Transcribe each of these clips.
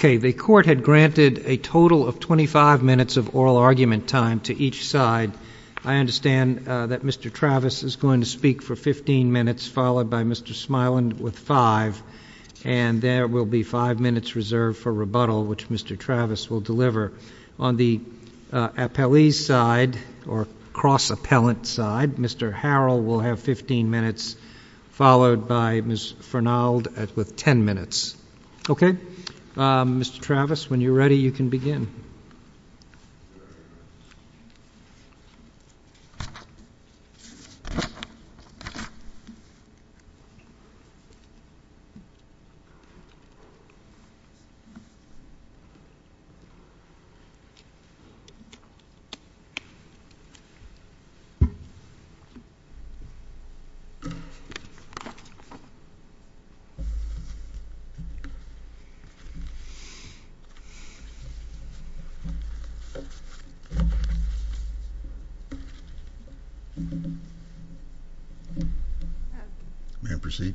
The Court had granted a total of 25 minutes of oral argument time to each side. I understand that Mr. Travis is going to speak for 15 minutes, followed by Mr. Smiland with five, and there will be five minutes reserved for rebuttal, which Mr. Travis will deliver. On the appellee's side, or cross-appellant side, Mr. Harrell will have 15 minutes, followed by Ms. Fernald with ten minutes. Okay? Mr. Travis, when you're ready, you can begin. May I proceed?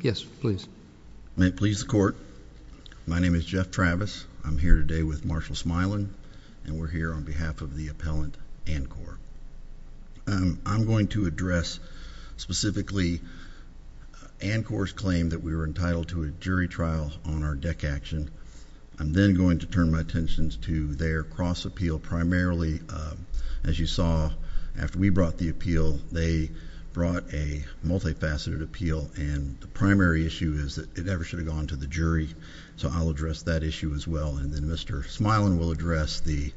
Yes, please. May it please the Court, my name is Jeff Travis. I'm here today with Marshal Smiland, and I'm going to address, specifically, Ancor's claim that we were entitled to a jury trial on our deck action. I'm then going to turn my attentions to their cross-appeal, primarily, as you saw, after we brought the appeal, they brought a multifaceted appeal, and the primary issue is that it never should have gone to the jury, so I'll address that issue as well, and then Mr. Smiland will address the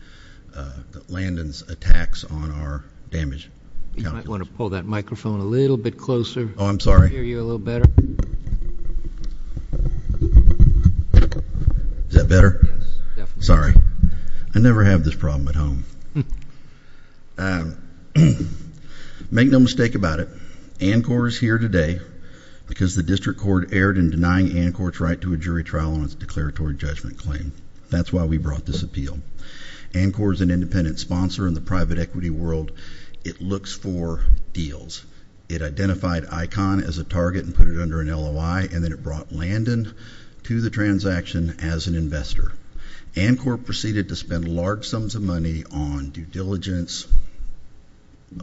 Landon's attacks on our damage. You might want to pull that microphone a little bit closer. Oh, I'm sorry. I can hear you a little better. Is that better? Yes, definitely. Sorry. I never have this problem at home. Make no mistake about it, Ancor is here today because the district court erred in denying Ancor's right to a jury trial on its declaratory judgment claim. That's why we brought this appeal. Ancor is an independent sponsor in the private equity world. It looks for deals. It identified ICON as a target and put it under an LOI, and then it brought Landon to the transaction as an investor. Ancor proceeded to spend large sums of money on due diligence,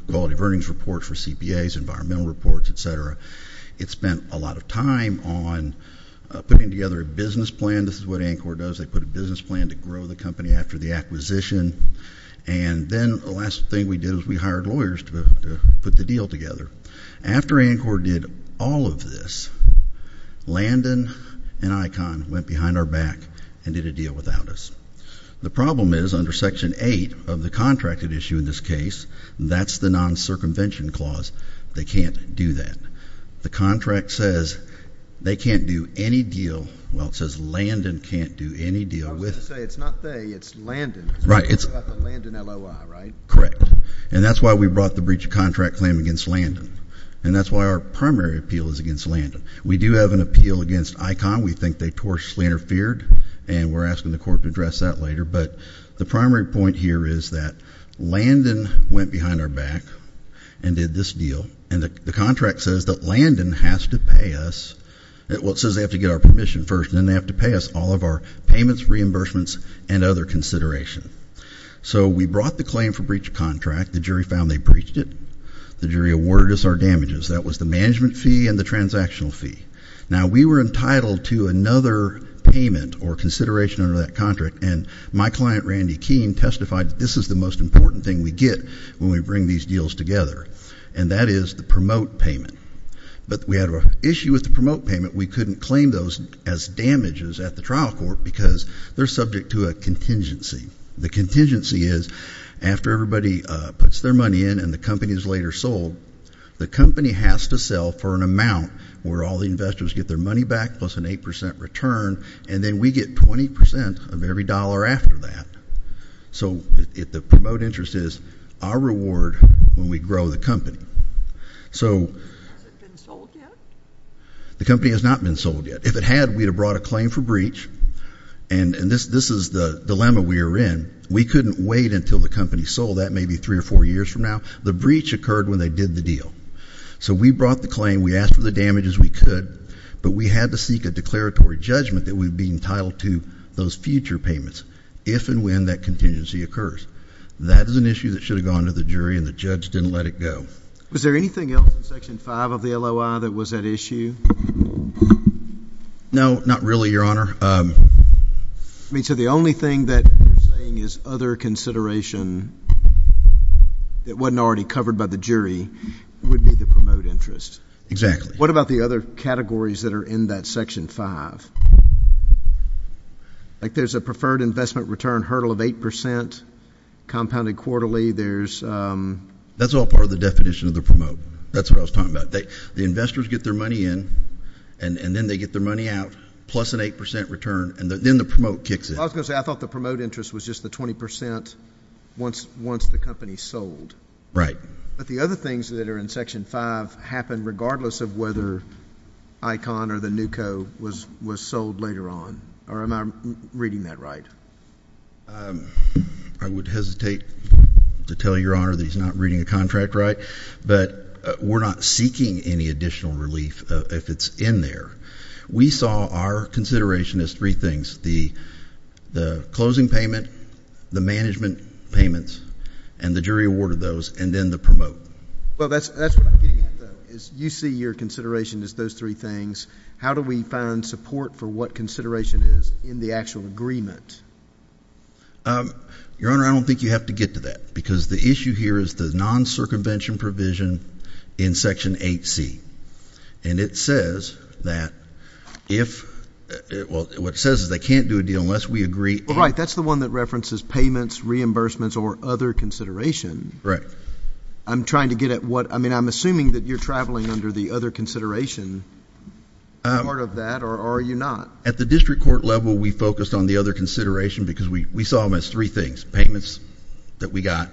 quality of earnings reports for CPAs, environmental reports, et cetera. It spent a lot of time on putting together a business plan. This is what Ancor does. They put a business plan to grow the company after the acquisition, and then the last thing we did was we hired lawyers to put the deal together. After Ancor did all of this, Landon and ICON went behind our back and did a deal without us. The problem is, under Section 8 of the contracted issue in this case, that's the non-circumvention clause. They can't do that. The contract says they can't do any deal. Well, it says Landon can't do any deal. I was going to say, it's not they, it's Landon. Right. It's the Landon LOI, right? Correct. And that's why we brought the breach of contract claim against Landon, and that's why our primary appeal is against Landon. We do have an appeal against ICON. We think they tortuously interfered, and we're asking the court to address that later, but the primary point here is that Landon went behind our back and did this deal, and the contract says that Landon has to pay us. Well, it says they have to get our permission first, and then they have to pay us all of our payments, reimbursements, and other consideration. So we brought the claim for breach of contract. The jury found they breached it. The jury awarded us our damages. That was the management fee and the transactional fee. Now, we were My client, Randy Keene, testified that this is the most important thing we get when we bring these deals together, and that is the promote payment. But we had an issue with the promote payment. We couldn't claim those as damages at the trial court because they're subject to a contingency. The contingency is after everybody puts their money in and the company is later sold, the company has to sell for an amount where all the investors get their money back plus an 8% return, and then we get 20% of every dollar after that. So the promote interest is our reward when we grow the company. Has it been sold yet? The company has not been sold yet. If it had, we would have brought a claim for breach, and this is the dilemma we are in. We couldn't wait until the company sold. That may be three or four years from now. The breach occurred when they did the deal. So we brought the But we had to seek a declaratory judgment that we'd be entitled to those future payments if and when that contingency occurs. That is an issue that should have gone to the jury and the judge didn't let it go. Was there anything else in Section 5 of the LOI that was at issue? No, not really, Your Honor. I mean, so the only thing that you're saying is other consideration that wasn't already covered by the jury would be the promote interest. Exactly. What about the other categories that are in that Section 5? Like there's a preferred investment return hurdle of 8% compounded quarterly. That's all part of the definition of the promote. That's what I was talking about. The investors get their money in, and then they get their money out, plus an 8% return, and then the promote kicks in. I was going to say, I thought the promote interest was just the 20% once the company sold. Right. But the other things that are in Section 5 happen regardless of whether ICON or the NUCO was sold later on, or am I reading that right? I would hesitate to tell Your Honor that he's not reading the contract right, but we're not seeking any additional relief if it's in there. We saw our consideration as three things, the closing payment, the management payments, and the jury awarded those, and then the promote. Well, that's what I'm getting at, though, is you see your consideration as those three things. How do we find support for what consideration is in the actual agreement? Your Honor, I don't think you have to get to that, because the issue here is the non-circumvention provision in Section 8C, and it says that if—well, what it says is they can't do a deal unless we agree— Right. That's the one that references payments, reimbursements, or other consideration. Right. I'm trying to get at what—I mean, I'm assuming that you're traveling under the other consideration part of that, or are you not? At the district court level, we focused on the other consideration because we saw them as three things, payments that we got,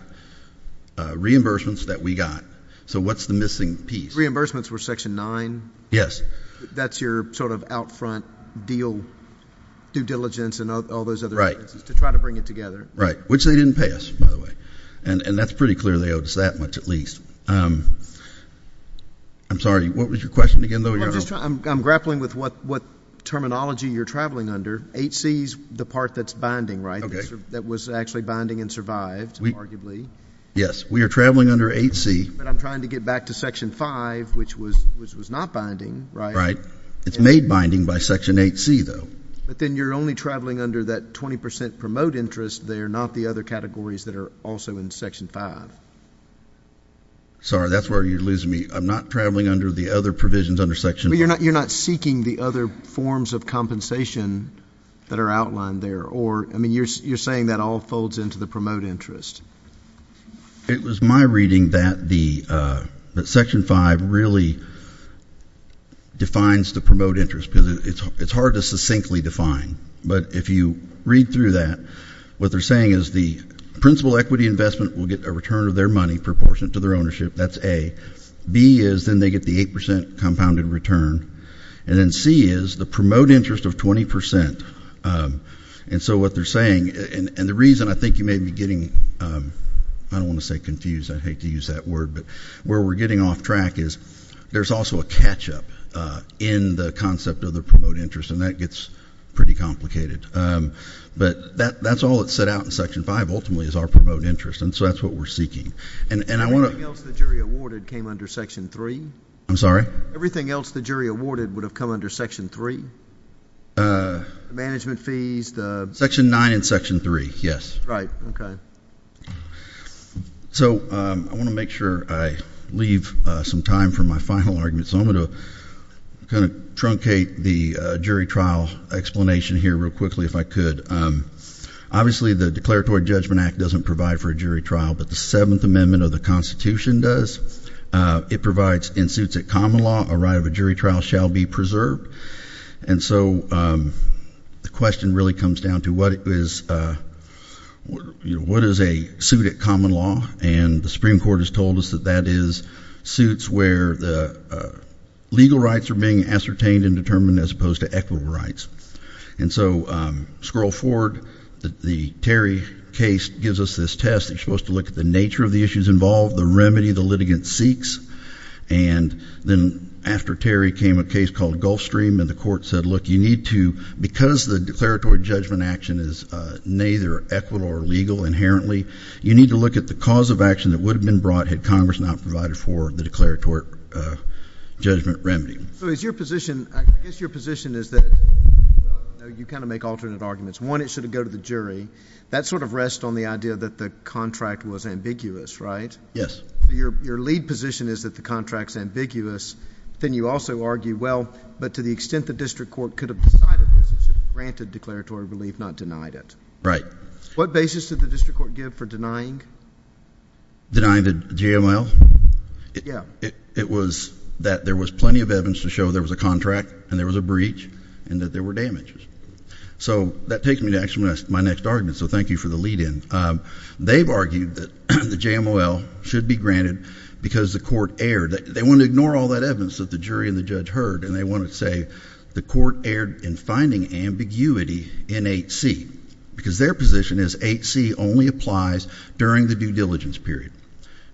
reimbursements that we got. So what's the missing piece? Reimbursements were Section 9? Yes. That's your sort of out front deal, due diligence, and all those other things to try to bring it together. Right. Which they didn't pass, by the way. And that's pretty clear, they owed us that much at least. I'm sorry, what was your question again, though, Your Honor? I'm grappling with what terminology you're traveling under. 8C is the part that's binding, right? That was actually binding and survived, arguably. Yes. We are traveling under 8C. But I'm trying to get back to Section 5, which was not binding, right? Right. It's made binding by Section 8C, though. But then you're only traveling under that 20% promote interest there, not the other categories that are also in Section 5. Sorry, that's where you're losing me. I'm not traveling under the other provisions under Section 5. You're not seeking the other forms of compensation that are outlined there, or, I mean, you're saying that all folds into the promote interest. It was my reading that the Section 5 really defines the promote interest because it's hard to succinctly define. But if you read through that, what they're saying is the principal equity investment will get a return of their money proportionate to their ownership. That's A. B is then they get the 8% compounded return. And then C is the promote interest of 20%. And so what they're saying, and the reason I think you may be getting, I don't want to say confused. I hate to use that word. But where we're getting off track is there's also a catch up in the concept of the promote interest, and that gets pretty complicated. But that's all that's set out in Section 5, ultimately, is our promote interest. And so that's what we're seeking. And I want to— Everything else the jury awarded came under Section 3? I'm sorry? Everything else the jury awarded would have come under Section 3? Management fees, the— Section 9 and Section 3, yes. Right, okay. So I want to make sure I leave some time for my final argument, so I'm going to kind of do a jury trial explanation here real quickly if I could. Obviously the Declaratory Judgment Act doesn't provide for a jury trial, but the Seventh Amendment of the Constitution does. It provides, in suits at common law, a right of a jury trial shall be preserved. And so the question really comes down to what is a suit at common law, and the Supreme Court has told us that that is suits where the legal rights are being ascertained and determined as opposed to equitable rights. And so, scroll forward, the Terry case gives us this test. You're supposed to look at the nature of the issues involved, the remedy the litigant seeks, and then after Terry came a case called Gulfstream, and the court said, look, you need to—because the Declaratory Judgment Action is neither equitable or legal inherently, you need to look at the cause of action that would have been brought had Congress not provided for the Declaratory Judgment Remedy. So is your position—I guess your position is that—you kind of make alternate arguments. One, it should have gone to the jury. That sort of rests on the idea that the contract was ambiguous, right? Yes. Your lead position is that the contract's ambiguous. Then you also argue, well, but to the extent the district court could have decided this, it should have granted declaratory relief, not denied it. Right. What basis did the district court give for denying? Denying the JML? Yeah. It was that there was plenty of evidence to show there was a contract and there was a breach and that there were damages. So that takes me to actually my next argument, so thank you for the lead-in. They've argued that the JML should be granted because the court erred. They want to ignore all that evidence that the jury and the judge heard, and they want to say the court erred in finding ambiguity in 8C because their position is 8C only applies during the due diligence period.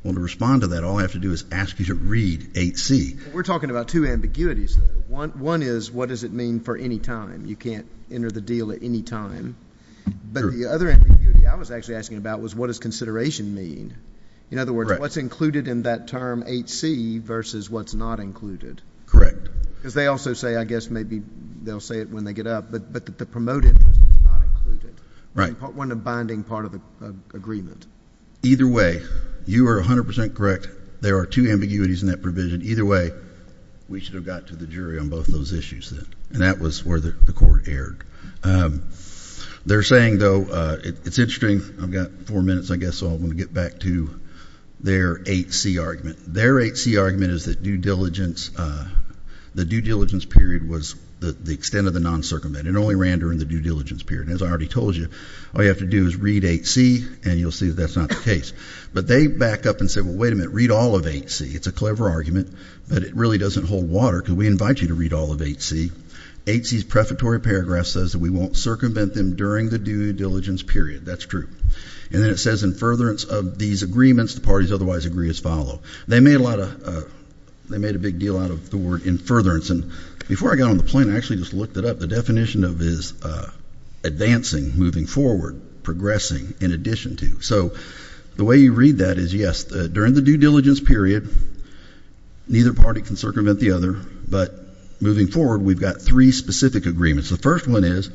Well, to respond to that, all I have to do is ask you to read 8C. We're talking about two ambiguities, though. One is what does it mean for any time? You can't enter the deal at any time, but the other ambiguity I was actually asking about was what does consideration mean? In other words, what's included in that term 8C versus what's not included? Correct. Because they also say, I guess maybe they'll say it when they get up, but the promoted is not included. Right. One of the binding part of the agreement. Either way, you are 100% correct. There are two ambiguities in that provision. Either way, we should have got to the jury on both of those issues then, and that was where the court erred. They're saying, though, it's interesting. I've got four minutes, I guess, so I'm going to get back to their 8C argument. Their 8C argument is that due diligence, the due diligence period was the extent of the non-circumvented. It only ran during the due diligence period, and as I already told you, all you have to do is read 8C, and you'll see that that's not the case. But they back up and say, well, wait a minute. Read all of 8C. It's a clever argument, but it really doesn't hold water because we invite you to read all of 8C. 8C's prefatory paragraph says that we won't circumvent them during the due diligence period. That's true. And then it says in furtherance of these agreements, the parties otherwise agree as follow. They made a big deal out of the word in furtherance, and before I got on the plane, I actually just looked it up. The definition of is advancing, moving forward, progressing, in addition to. So the way you read that is, yes, during the due diligence period, neither party can circumvent the other, but moving forward, we've got three specific agreements. The first one is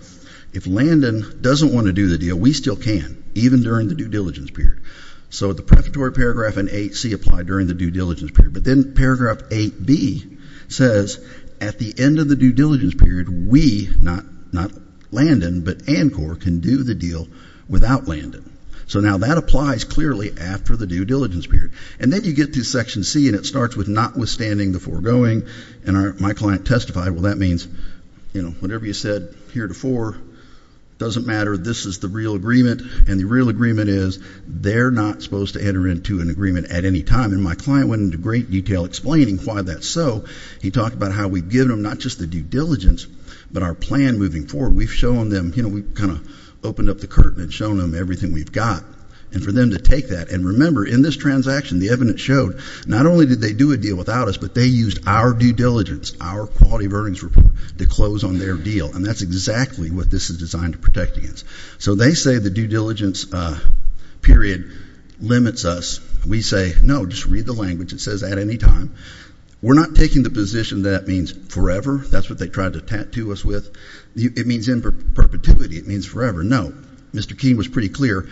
if Landon doesn't want to do the deal, we still can, even during the due diligence period. So the prefatory paragraph in 8C applied during the due diligence period, but then paragraph 8B says, at the end of the due diligence period, we, not Landon, but ANCOR can do the deal without Landon. So now that applies clearly after the due diligence period. And then you get to section C, and it starts with notwithstanding the foregoing, and my client testified, well, that means, you know, whatever you said here before doesn't matter. This is the real agreement, and the real agreement is they're not supposed to enter into an agreement at any time. And then my client went into great detail explaining why that's so. He talked about how we've given them not just the due diligence, but our plan moving forward. We've shown them, you know, we've kind of opened up the curtain and shown them everything we've got, and for them to take that. And remember, in this transaction, the evidence showed not only did they do a deal without us, but they used our due diligence, our quality of earnings report, to close on their deal, and that's exactly what this is designed to protect against. So they say the due diligence period limits us. We say, no, just read the language. It says at any time. We're not taking the position that that means forever. That's what they tried to tattoo us with. It means in perpetuity. It means forever. No. Mr. Keene was pretty clear.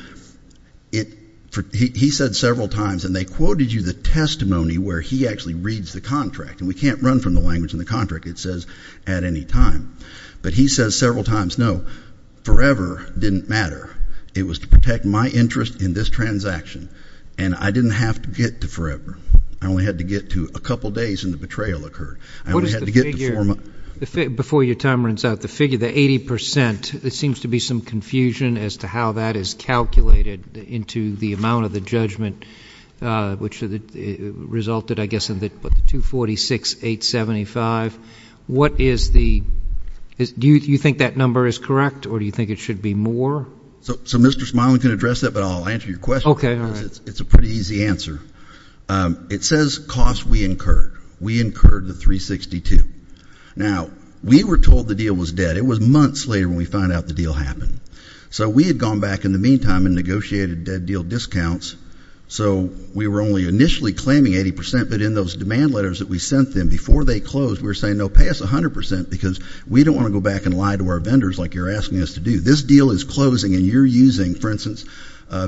He said several times, and they quoted you the testimony where he actually reads the contract, and we can't run from the language in the contract. It says at any time. But he says several times, no, forever didn't matter. It was to protect my interest in this transaction. And I didn't have to get to forever. I only had to get to a couple days and the betrayal occurred. I only had to get to four months. Before your time runs out, the figure, the 80%, there seems to be some confusion as to how that is calculated into the amount of the judgment, which resulted, I guess, in the 246,875. What is the, do you think that number is correct, or do you think it should be more? So Mr. Smiley can address that, but I'll answer your question. It's a pretty easy answer. It says cost we incurred. We incurred the 362. Now, we were told the deal was dead. It was months later when we found out the deal happened. So we had gone back in the meantime and negotiated dead deal discounts. So we were only initially claiming 80%, but in those demand letters that we sent them before they closed, we were saying, no, pay us 100% because we don't want to go back and lie to our vendors like you're asking us to do. This deal is closing, and you're using, for instance,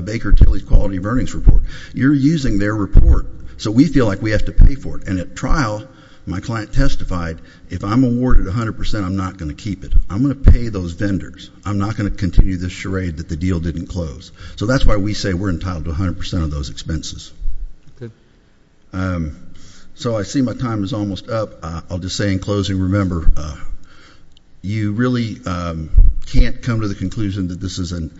Baker Tilly's quality of earnings report. You're using their report. So we feel like we have to pay for it. And at trial, my client testified, if I'm awarded 100%, I'm not going to keep it. I'm going to pay those vendors. I'm not going to continue this charade that the deal didn't close. So that's why we say we're entitled to 100% of those expenses. So I see my time is almost up. I'll just say in closing, remember, you really can't come to the conclusion that this is an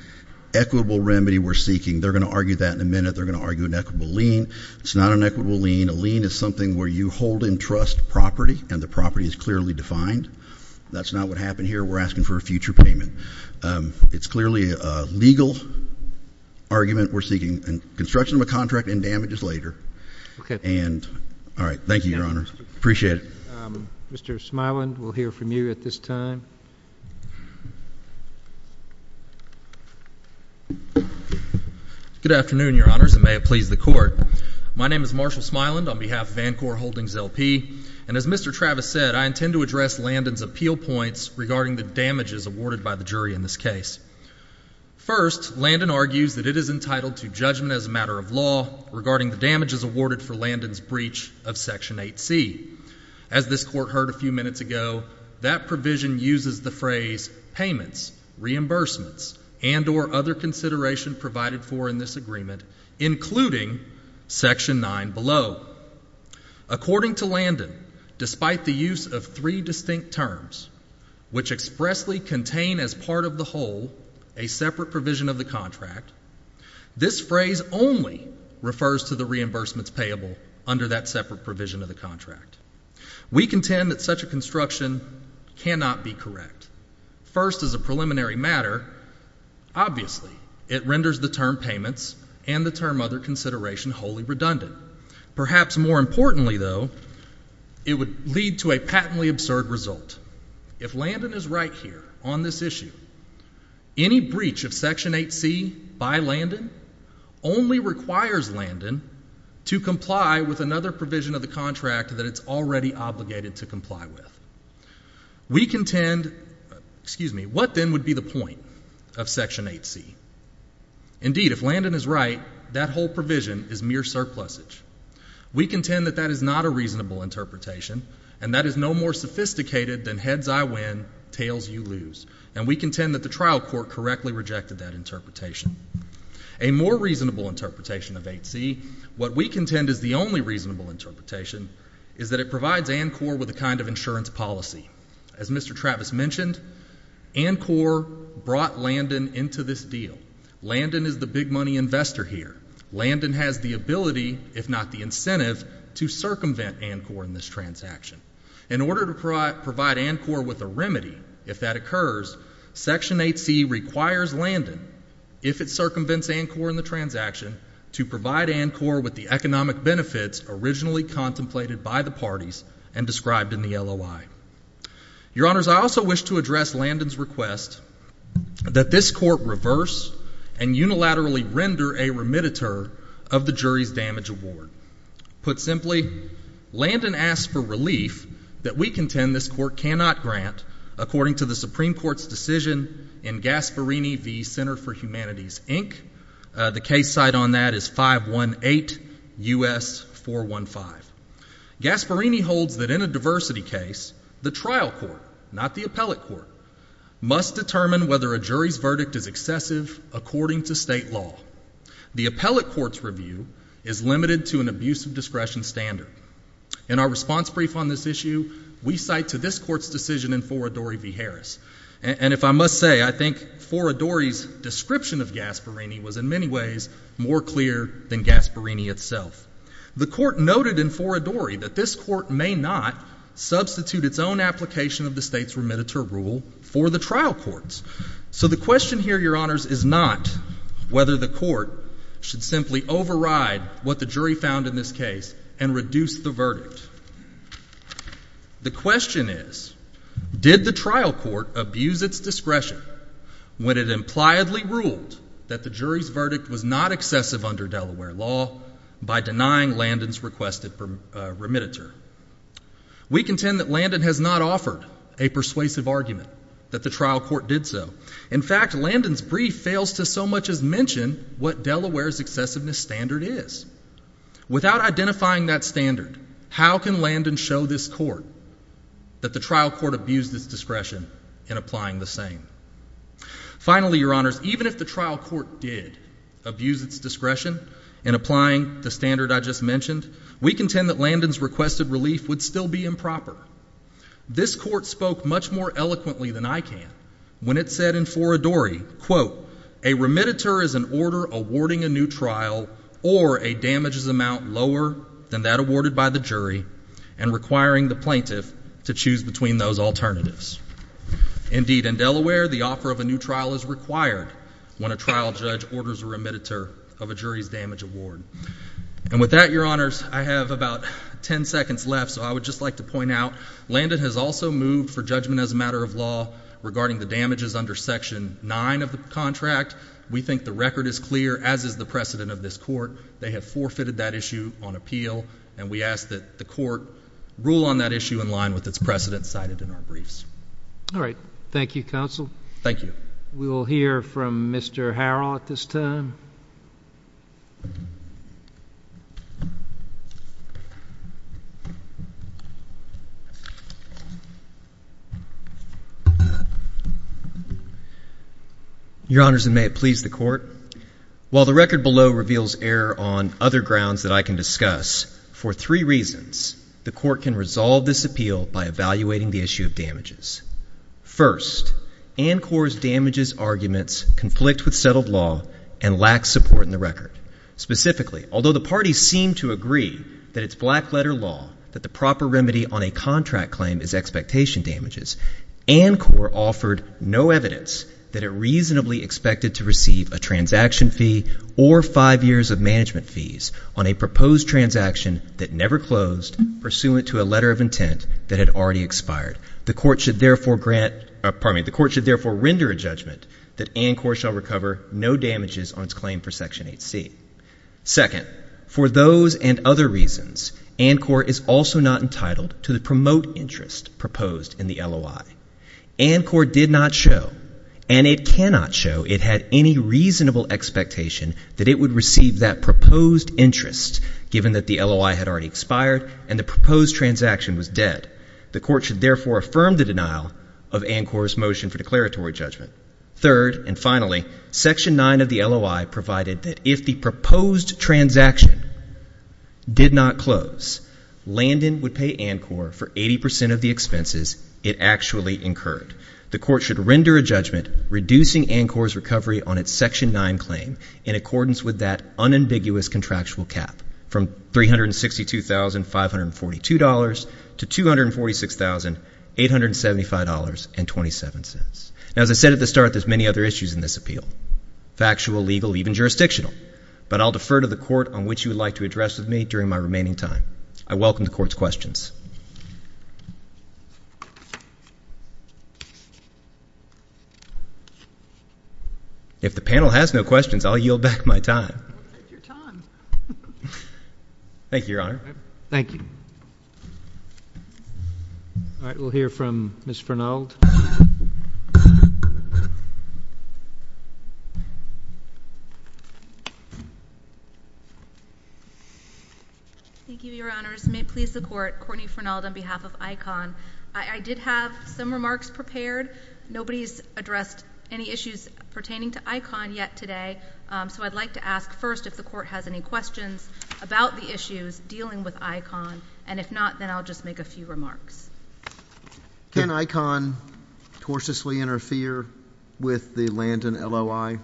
equitable remedy we're seeking. They're going to argue that in a minute. They're going to argue an equitable lien. It's not an equitable lien. A lien is something where you hold and trust property, and the property is clearly defined. That's not what happened here. We're asking for a future payment. It's clearly a legal argument we're seeking, and construction of a contract and damage is later. And, all right, thank you, Your Honor. Appreciate it. Mr. Smiland, we'll hear from you at this time. Good afternoon, Your Honors, and may it please the court. My name is Marshall Smiland on behalf of Vancouver Holdings LP. And as Mr. Travis said, I intend to address Landon's appeal points regarding the damages awarded by the jury in this case. First, Landon argues that it is entitled to judgment as a matter of law regarding the damages awarded for Landon's breach of Section 8C. As this court heard a few minutes ago, that provision uses the phrase payments, reimbursements, and or other consideration provided for in this agreement, including Section 9 below. According to Landon, despite the use of three distinct terms, which expressly contain as part of the whole a separate provision of the contract, this phrase only refers to the reimbursements payable under that separate provision of the contract. We contend that such a construction cannot be correct. First, as a preliminary matter, obviously, it renders the term payments and the term other consideration wholly redundant. Perhaps more importantly, though, it would lead to a patently absurd result. If Landon is right here on this issue, any breach of Section 8C by Landon only requires Landon to comply with another provision of the contract that it's already obligated to comply with. We contend, excuse me, what then would be the point of Section 8C? Indeed, if Landon is right, that whole provision is mere surplusage. We contend that that is not a reasonable interpretation, and that is no more sophisticated than heads I win, tails you lose. And we contend that the trial court correctly rejected that interpretation. A more reasonable interpretation of 8C, what we contend is the only reasonable interpretation, is that it provides ANCOR with a kind of insurance policy. As Mr. Travis mentioned, ANCOR brought Landon into this deal. Landon is the big money investor here. Landon has the ability, if not the incentive, to circumvent ANCOR in this transaction. In order to provide ANCOR with a remedy, if that occurs, Section 8C requires Landon, if it circumvents ANCOR in the transaction, to provide ANCOR with the economic benefits originally contemplated by the parties and described in the LOI. Your Honors, I also wish to address Landon's request that this court reverse and unilaterally render a remediator of the jury's damage award. Put simply, Landon asked for relief that we contend this court cannot grant according to the Supreme Court's decision in Gasparini v. Center for Humanities, Inc. The case site on that is 518 US 415. Gasparini holds that in a diversity case, the trial court, not the appellate court, must determine whether a jury's verdict is excessive according to state law. The appellate court's review is limited to an abuse of discretion standard. In our response brief on this issue, we cite to this court's decision in Foridori v. Gasparini was in many ways more clear than Gasparini itself. The court noted in Foridori that this court may not substitute its own application of the state's remediator rule for the trial courts. So the question here, Your Honors, is not whether the court should simply override what the jury found in this case and reduce the verdict. The question is, did the trial court abuse its discretion when it impliedly ruled that the jury's verdict was not excessive under Delaware law by denying Landon's requested remediator? We contend that Landon has not offered a persuasive argument, that the trial court did so. In fact, Landon's brief fails to so much as mention what Delaware's excessiveness standard is. Without identifying that standard, how can Landon show this court that the trial court abused its discretion in applying the same? Finally, Your Honors, even if the trial court did abuse its discretion in applying the standard I just mentioned, we contend that Landon's requested relief would still be improper. This court spoke much more eloquently than I can when it said in Foridori, quote, a remediator is an order awarding a new trial or a damages amount lower than that awarded by the jury and requiring the plaintiff to choose between those alternatives. Indeed, in Delaware, the offer of a new trial is required when a trial judge orders a remediator of a jury's damage award. And with that, Your Honors, I have about ten seconds left, so I would just like to point out, Landon has also moved for judgment as a matter of law regarding the damages under section nine of the contract. We think the record is clear, as is the precedent of this court. They have forfeited that issue on appeal, and we ask that the court rule on that issue in line with its precedent cited in our briefs. All right. Thank you, Counsel. Thank you. We will hear from Mr. Harrell at this time. Your Honors, and may it please the court. While the record below reveals error on other grounds that I can discuss for three reasons, the court can resolve this appeal by evaluating the issue of damages. First, ANCOR's damages arguments conflict with settled law and lack support in the record. Specifically, although the parties seem to agree that it's black letter law, that the proper remedy on a contract claim is expectation damages. ANCOR offered no evidence that it reasonably expected to receive a transaction fee or five years of management fees on a proposed transaction that never closed, pursuant to a letter of intent that had already expired. The court should therefore grant, pardon me, the court should therefore render a judgment that ANCOR shall recover no damages on its claim for section 8C. Second, for those and other reasons, ANCOR is also not entitled to the promote interest proposed in the LOI. ANCOR did not show, and it cannot show, it had any reasonable expectation that it would receive that proposed interest, given that the LOI had already expired and the proposed transaction was dead. The court should therefore affirm the denial of ANCOR's motion for declaratory judgment. Third, and finally, section 9 of the LOI provided that if the proposed transaction did not close, Landon would pay ANCOR for 80% of the expenses it actually incurred. The court should render a judgment reducing ANCOR's recovery on its section 9 claim in accordance with that unambiguous contractual cap from $362,542 to $246,875.27. Now, as I said at the start, there's many other issues in this appeal, factual, legal, even jurisdictional, but I'll defer to the court on which you would like to address with me during my remaining time. I welcome the court's questions. If the panel has no questions, I'll yield back my time. Thank you, Your Honor. Thank you. All right, we'll hear from Ms. Fernald. Thank you, Your Honors. May it please the court, Courtney Fernald on behalf of ICON. I did have some remarks prepared. Nobody's addressed any issues pertaining to ICON yet today. So I'd like to ask first if the court has any questions about the issues dealing with ICON, and if not, then I'll just make a few remarks. Can ICON tortiously interfere with the Landon LOI?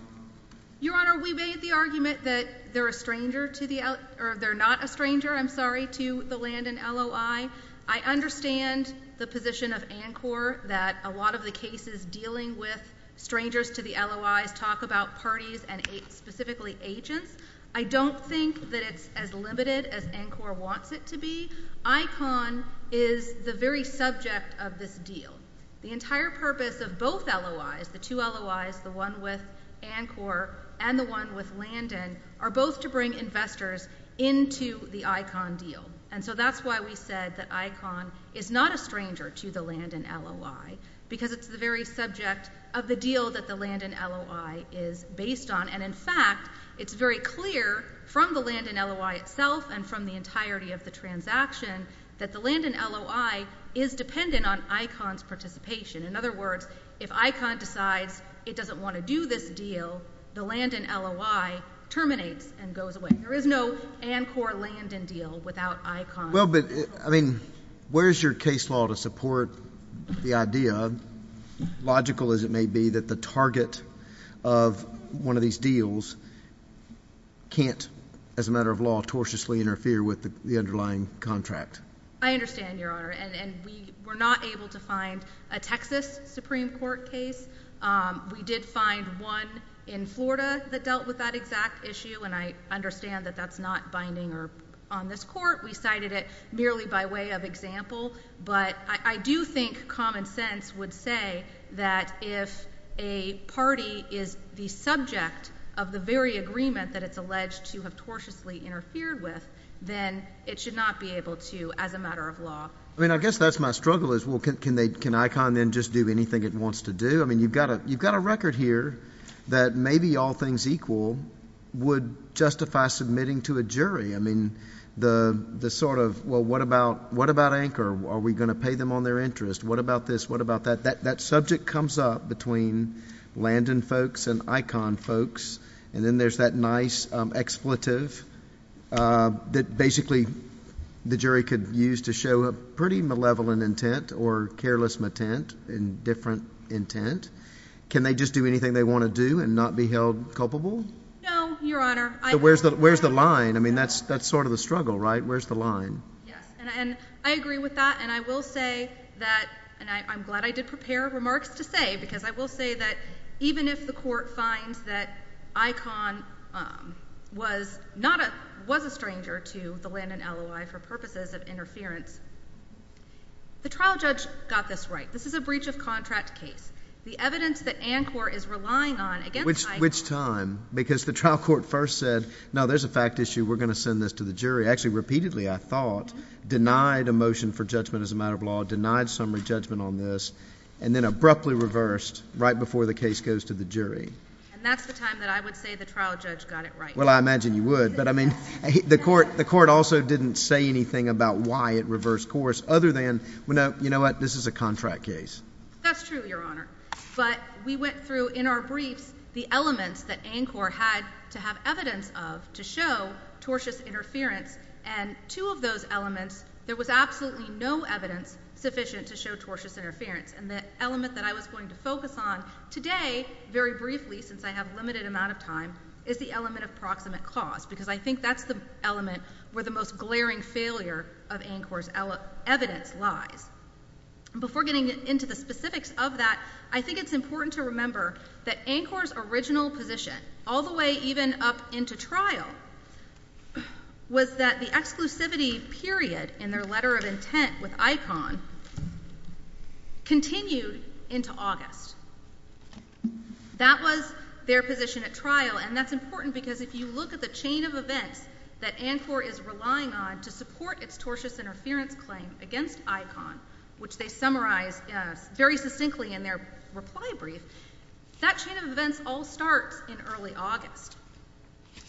Your Honor, we made the argument that they're a stranger to the, or they're not a stranger, I'm sorry, to the Landon LOI. I understand the position of ANCOR that a lot of the cases dealing with strangers to the LOIs talk about parties and specifically agents. I don't think that it's as limited as ANCOR wants it to be. ICON is the very subject of this deal. The entire purpose of both LOIs, the two LOIs, the one with ANCOR and the one with Landon, are both to bring investors into the ICON deal. And so that's why we said that ICON is not a stranger to the Landon LOI, because it's the very subject of the deal that the Landon LOI is based on. And in fact, it's very clear from the Landon LOI itself and from the entirety of the transaction that the Landon LOI is dependent on ICON's participation. In other words, if ICON decides it doesn't want to do this deal, the Landon LOI terminates and goes away. There is no ANCOR-Landon deal without ICON. Well, but, I mean, where's your case law to support the idea, logical as it may be, that the target of one of these deals can't, as a matter of law, tortiously interfere with the underlying contract? I understand, Your Honor, and we were not able to find a Texas Supreme Court case. We did find one in Florida that dealt with that exact issue, and I understand that that's not binding on this Court. We cited it merely by way of example. But I do think common sense would say that if a party is the subject of the very agreement that it's alleged to have tortiously interfered with, then it should not be able to, as a matter of law. I mean, I guess that's my struggle is, well, can ICON then just do anything it wants to do? I mean, you've got a record here that maybe all things equal would justify submitting to a jury. I mean, the sort of, well, what about ANCOR? Are we going to pay them on their interest? What about this? What about that? That subject comes up between Landon folks and ICON folks, and then there's that nice expletive that basically the jury could use to show a pretty malevolent intent or careless metent, indifferent intent. Can they just do anything they want to do and not be held culpable? No, Your Honor. Where's the line? I mean, that's sort of the struggle, right? Where's the line? Yes, and I agree with that, and I will say that, and I'm glad I did prepare remarks to say, because I will say that even if the court finds that ICON was a stranger to the Landon LOI for purposes of interference, the trial judge got this right. This is a breach of contract case. The evidence that ANCOR is relying on against ICON... Which time? Because the trial court first said, no, there's a fact issue. We're going to send this to the jury. Actually, repeatedly, I thought, denied a motion for judgment as a matter of law, denied summary judgment on this, and then abruptly reversed right before the case goes to the jury. And that's the time that I would say the trial judge got it right. Well, I imagine you would, but I mean, the court also didn't say anything about why it reversed course, other than, you know what, this is a contract case. That's true, Your Honor. But we went through, in our briefs, the elements that ANCOR had to have evidence of to show tortious interference, and two of those elements, there was absolutely no evidence sufficient to show tortious interference. And the element that I was going to focus on today, very briefly, since I have a limited amount of time, is the element of proximate cause, because I think that's the element where the most glaring failure of ANCOR's evidence lies. Before getting into the specifics of that, I think it's important to remember that ANCOR's original position, all the way even up into trial, was that the exclusivity period in their letter of intent with ICON continued into August. That was their position at trial, and that's important because if you look at the chain of events that ANCOR is relying on to support its tortious interference claim against ICON, which they summarize very succinctly in their reply brief, that chain of events all starts in early August.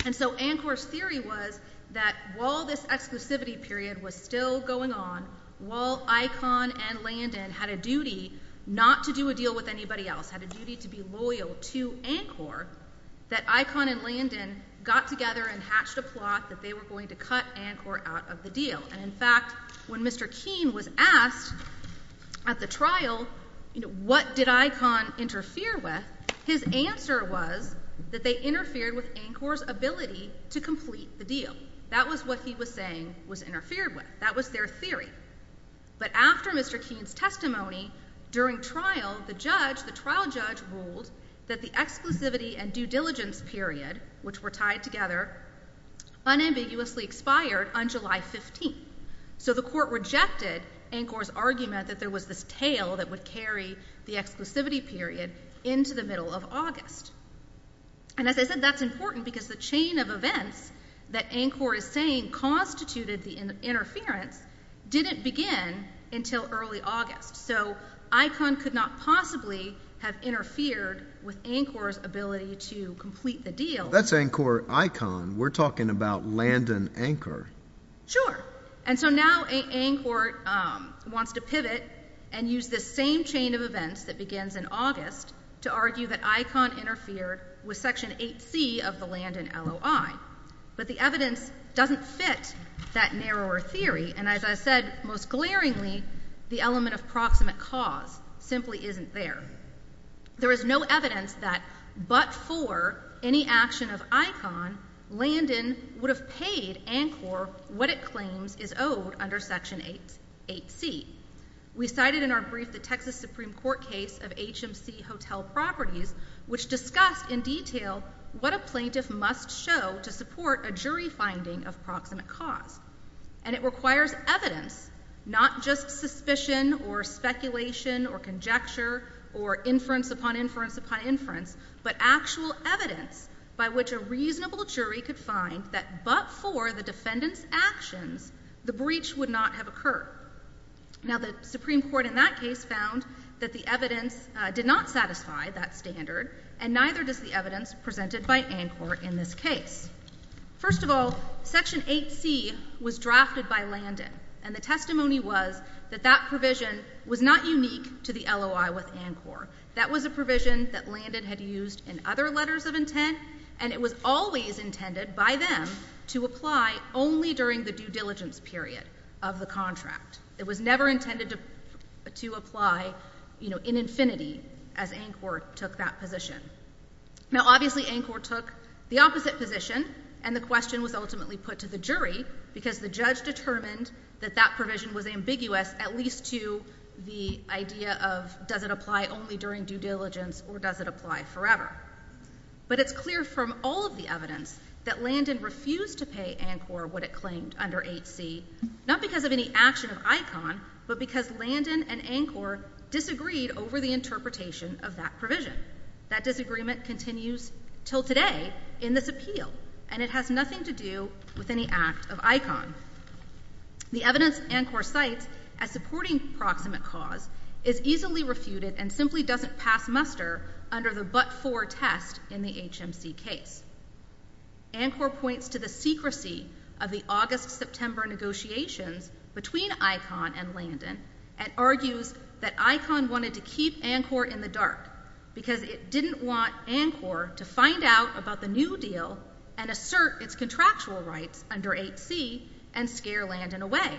And so ANCOR's theory was that while this exclusivity period was still going on, while ICON and Landon had a duty not to do a deal with anybody else, had a duty to be loyal to ANCOR, that ICON and Landon got together and hatched a plot that they were going to cut ANCOR out of the deal. And in fact, when Mr. Keene was asked at the trial, you know, what did ICON interfere with, his answer was that they interfered with ANCOR's ability to complete the deal. That was what he was saying was interfered with. That was their theory. But after Mr. Keene's testimony, during trial, the judge, the trial judge, ruled that the exclusivity and due diligence period, which were tied together, unambiguously expired on July 15th. So the court rejected ANCOR's argument that there was this tail that would carry the exclusivity period into the middle of August. And as I said, that's important because the chain of events that ANCOR is saying constituted the interference didn't begin until early August. So ICON could not possibly have interfered with ANCOR's ability to complete the deal. That's ANCOR-ICON. We're talking about Landon-ANCOR. Sure. And so now ANCOR wants to pivot and use this same chain of events that begins in August to argue that ICON interfered with Section 8C of the Landon LOI. But the evidence doesn't fit that narrower theory, and as I said most glaringly, the element of proximate cause simply isn't there. There is no evidence that but for any action of ICON, Landon would have paid ANCOR what it claims is owed under Section 8C. We cited in our brief the Texas Supreme Court case of HMC Hotel Properties, which discussed in detail what a plaintiff must show to support a jury finding of proximate cause. And it requires evidence, not just suspicion or speculation or conjecture or inference upon inference upon inference, but actual evidence by which a reasonable jury could find that but for the defendant's actions, the breach would not have occurred. Now the Supreme Court in that case found that the evidence did not satisfy that standard and neither does the evidence presented by ANCOR in this case. First of all, Section 8C was drafted by Landon, and the testimony was that that provision was not unique to the LOI with ANCOR. That was a provision that Landon had used in other letters of intent, and it was always intended by them to apply only during the due diligence period of the contract. It was never intended to apply, you know, in infinity as ANCOR took that position. Now obviously ANCOR took the opposite position, and the question was ultimately put to the jury because the judge determined that that provision was ambiguous at least to the idea of does it apply only during due diligence or does it apply forever. But it's clear from all of the evidence that Landon refused to pay ANCOR what it claimed under 8C, not because of any action of ICON, but because Landon and ANCOR disagreed over the interpretation of that provision. That disagreement continues till today in this appeal, and it has nothing to do with any act of ICON. The evidence ANCOR cites as supporting proximate cause is easily refuted and simply doesn't pass muster under the but-for test in the HMC case. ANCOR points to the secrecy of the August-September negotiations between ICON and Landon and argues that ICON wanted to keep ANCOR in the dark because it didn't want ANCOR to find out about the new deal and assert its contractual rights under 8C and scare Landon away.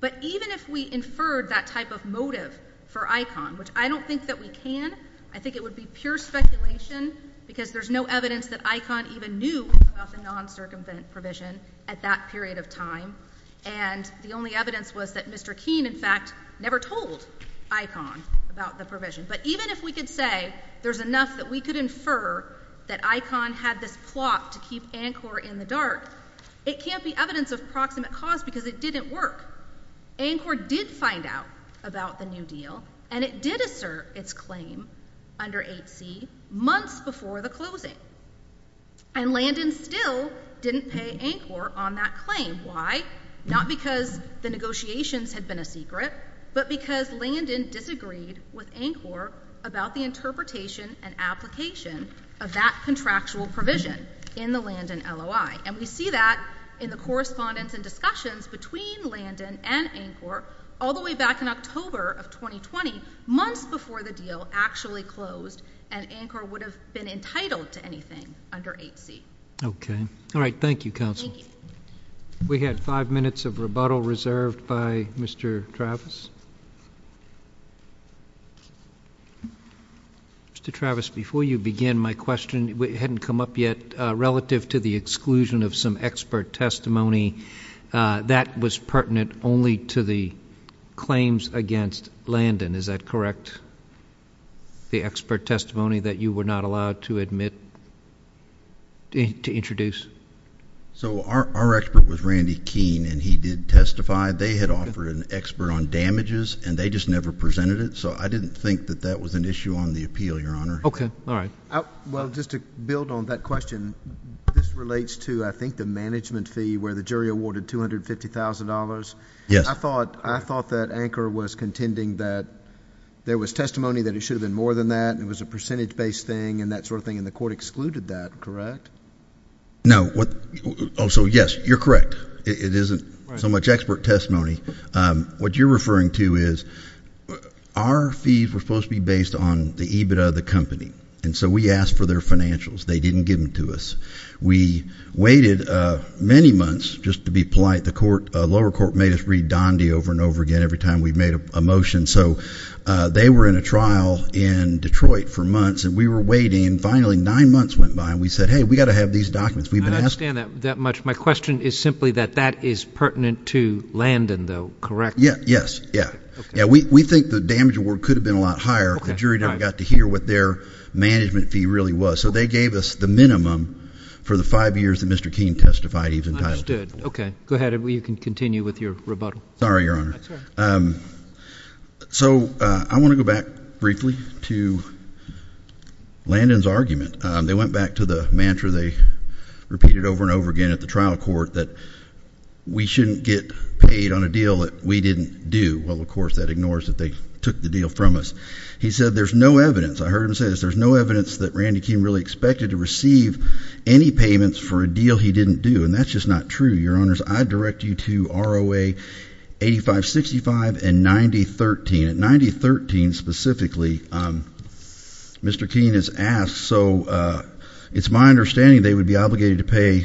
But even if we inferred that type of motive for ICON, which I don't think that we can, I think it would be pure speculation, because there's no evidence that ICON even knew about the non-circumvent provision at that period of time, and the only evidence was that Mr. Keene, in fact, never told ICON about the provision. But even if we could say there's enough that we could infer that ICON had this plot to keep ANCOR in the dark, it can't be evidence of proximate cause because it didn't work. ANCOR did find out about the new deal, and it did assert its claim under 8C months before the closing. And Landon still didn't pay ANCOR on that claim. Why? Not because the negotiations had been a secret, but because Landon disagreed with ANCOR about the interpretation and application of that contractual provision in the Landon LOI. And we see that in the correspondence and ANCOR all the way back in October of 2020, months before the deal actually closed, and ANCOR would have been entitled to anything under 8C. Okay. All right. Thank you, counsel. Thank you. We had five minutes of rebuttal reserved by Mr. Travis. Mr. Travis, before you begin, my question hadn't come up yet. Relative to the exclusion of some only to the claims against Landon, is that correct, the expert testimony that you were not allowed to admit, to introduce? So our expert was Randy Keene, and he did testify. They had offered an expert on damages, and they just never presented it. So I didn't think that that was an issue on the appeal, Your Honor. Okay. All right. Well, just to build on that question, this relates to, I think, the management fee where jury awarded $250,000. Yes. I thought that ANCOR was contending that there was testimony that it should have been more than that, and it was a percentage-based thing and that sort of thing, and the court excluded that, correct? No. Oh, so yes, you're correct. It isn't so much expert testimony. What you're referring to is our fees were supposed to be based on the EBITDA of the company, and so we asked for their just to be polite, the lower court made us read Donde over and over again every time we made a motion. So they were in a trial in Detroit for months, and we were waiting, and finally, nine months went by, and we said, hey, we've got to have these documents. I don't understand that much. My question is simply that that is pertinent to Landon, though, correct? Yeah. Yes. Yeah. We think the damage award could have been a lot higher if the jury never got to hear what their management fee really was. So they gave us the minimum for the five years that Mr. Keene testified he was entitled to. Okay. Go ahead. You can continue with your rebuttal. Sorry, Your Honor. So I want to go back briefly to Landon's argument. They went back to the mantra they repeated over and over again at the trial court that we shouldn't get paid on a deal that we didn't do. Well, of course, that ignores that they took the deal from us. He said there's no evidence. I heard him say this. There's no evidence that Randy Keene really expected to receive any payments for a deal he didn't do. And that's just not true, Your Honors. I direct you to ROA 8565 and 9013. At 9013 specifically, Mr. Keene has asked. So it's my understanding they would be obligated to pay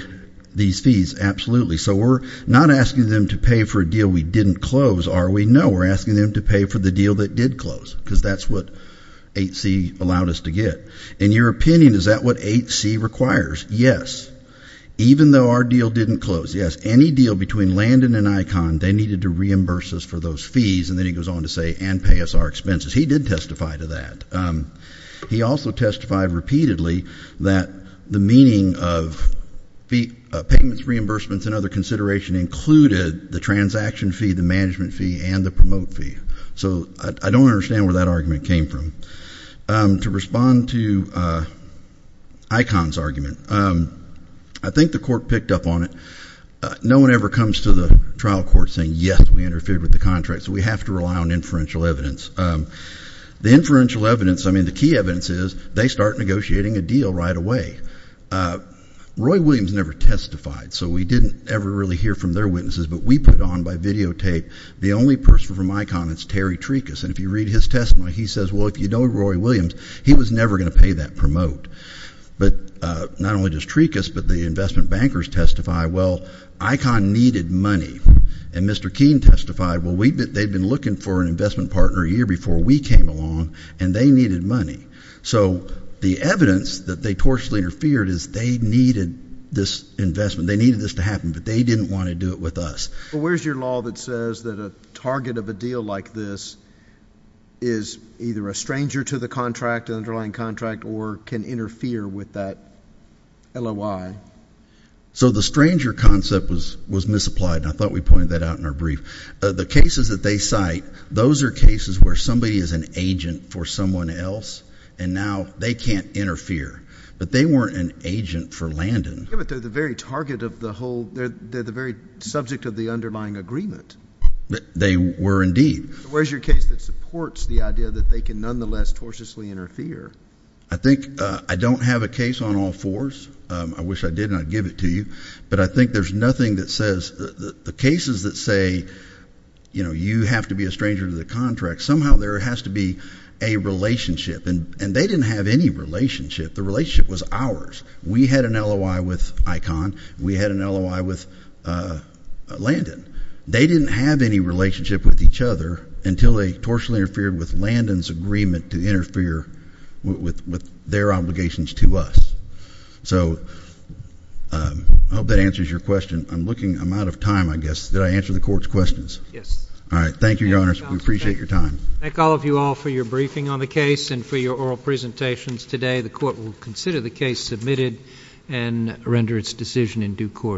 these fees. Absolutely. So we're not asking them to pay for a deal we didn't close, are we? No. We're asking them to pay for the deal that did close, because that's what 8C requires. Yes. Even though our deal didn't close. Yes. Any deal between Landon and Icahn, they needed to reimburse us for those fees. And then he goes on to say, and pay us our expenses. He did testify to that. He also testified repeatedly that the meaning of payments, reimbursements, and other consideration included the transaction fee, the management fee, and the promote fee. So I don't understand where that argument came from. To respond to Icahn's argument, I think the court picked up on it. No one ever comes to the trial court saying, yes, we interfered with the contract. So we have to rely on inferential evidence. The inferential evidence, I mean, the key evidence is they start negotiating a deal right away. Roy Williams never testified. So we didn't ever really hear from their witnesses. But we put on videotape, the only person from Icahn is Terry Trekus. And if you read his testimony, he says, well, if you know Roy Williams, he was never going to pay that promote. But not only does Trekus, but the investment bankers testify, well, Icahn needed money. And Mr. Keene testified, well, they'd been looking for an investment partner a year before we came along, and they needed money. So the evidence that they tortuously interfered is they needed this investment. They needed this happen, but they didn't want to do it with us. But where's your law that says that a target of a deal like this is either a stranger to the contract, an underlying contract, or can interfere with that LOI? So the stranger concept was misapplied. And I thought we pointed that out in our brief. The cases that they cite, those are cases where somebody is an agent for someone else, and now they can't interfere. But they weren't an agent for Landon. Yeah, but they're the very target of the whole, they're the very subject of the underlying agreement. They were indeed. Where's your case that supports the idea that they can nonetheless tortuously interfere? I think I don't have a case on all fours. I wish I did, and I'd give it to you. But I think there's nothing that says, the cases that say, you know, you have to be a stranger to the contract, somehow there has to be a relationship. And they didn't have any relationship. The relationship was ours. We had an LOI with Icahn. We had an LOI with Landon. They didn't have any relationship with each other until they tortuously interfered with Landon's agreement to interfere with their obligations to us. So I hope that answers your question. I'm looking, I'm out of time, I guess. Did I answer the court's questions? Yes. All right. Thank you, Your Honors. We appreciate your time. Thank all of you all for your briefing on the case and for your oral presentations. Today, the court will consider the case submitted and render its decision in due course.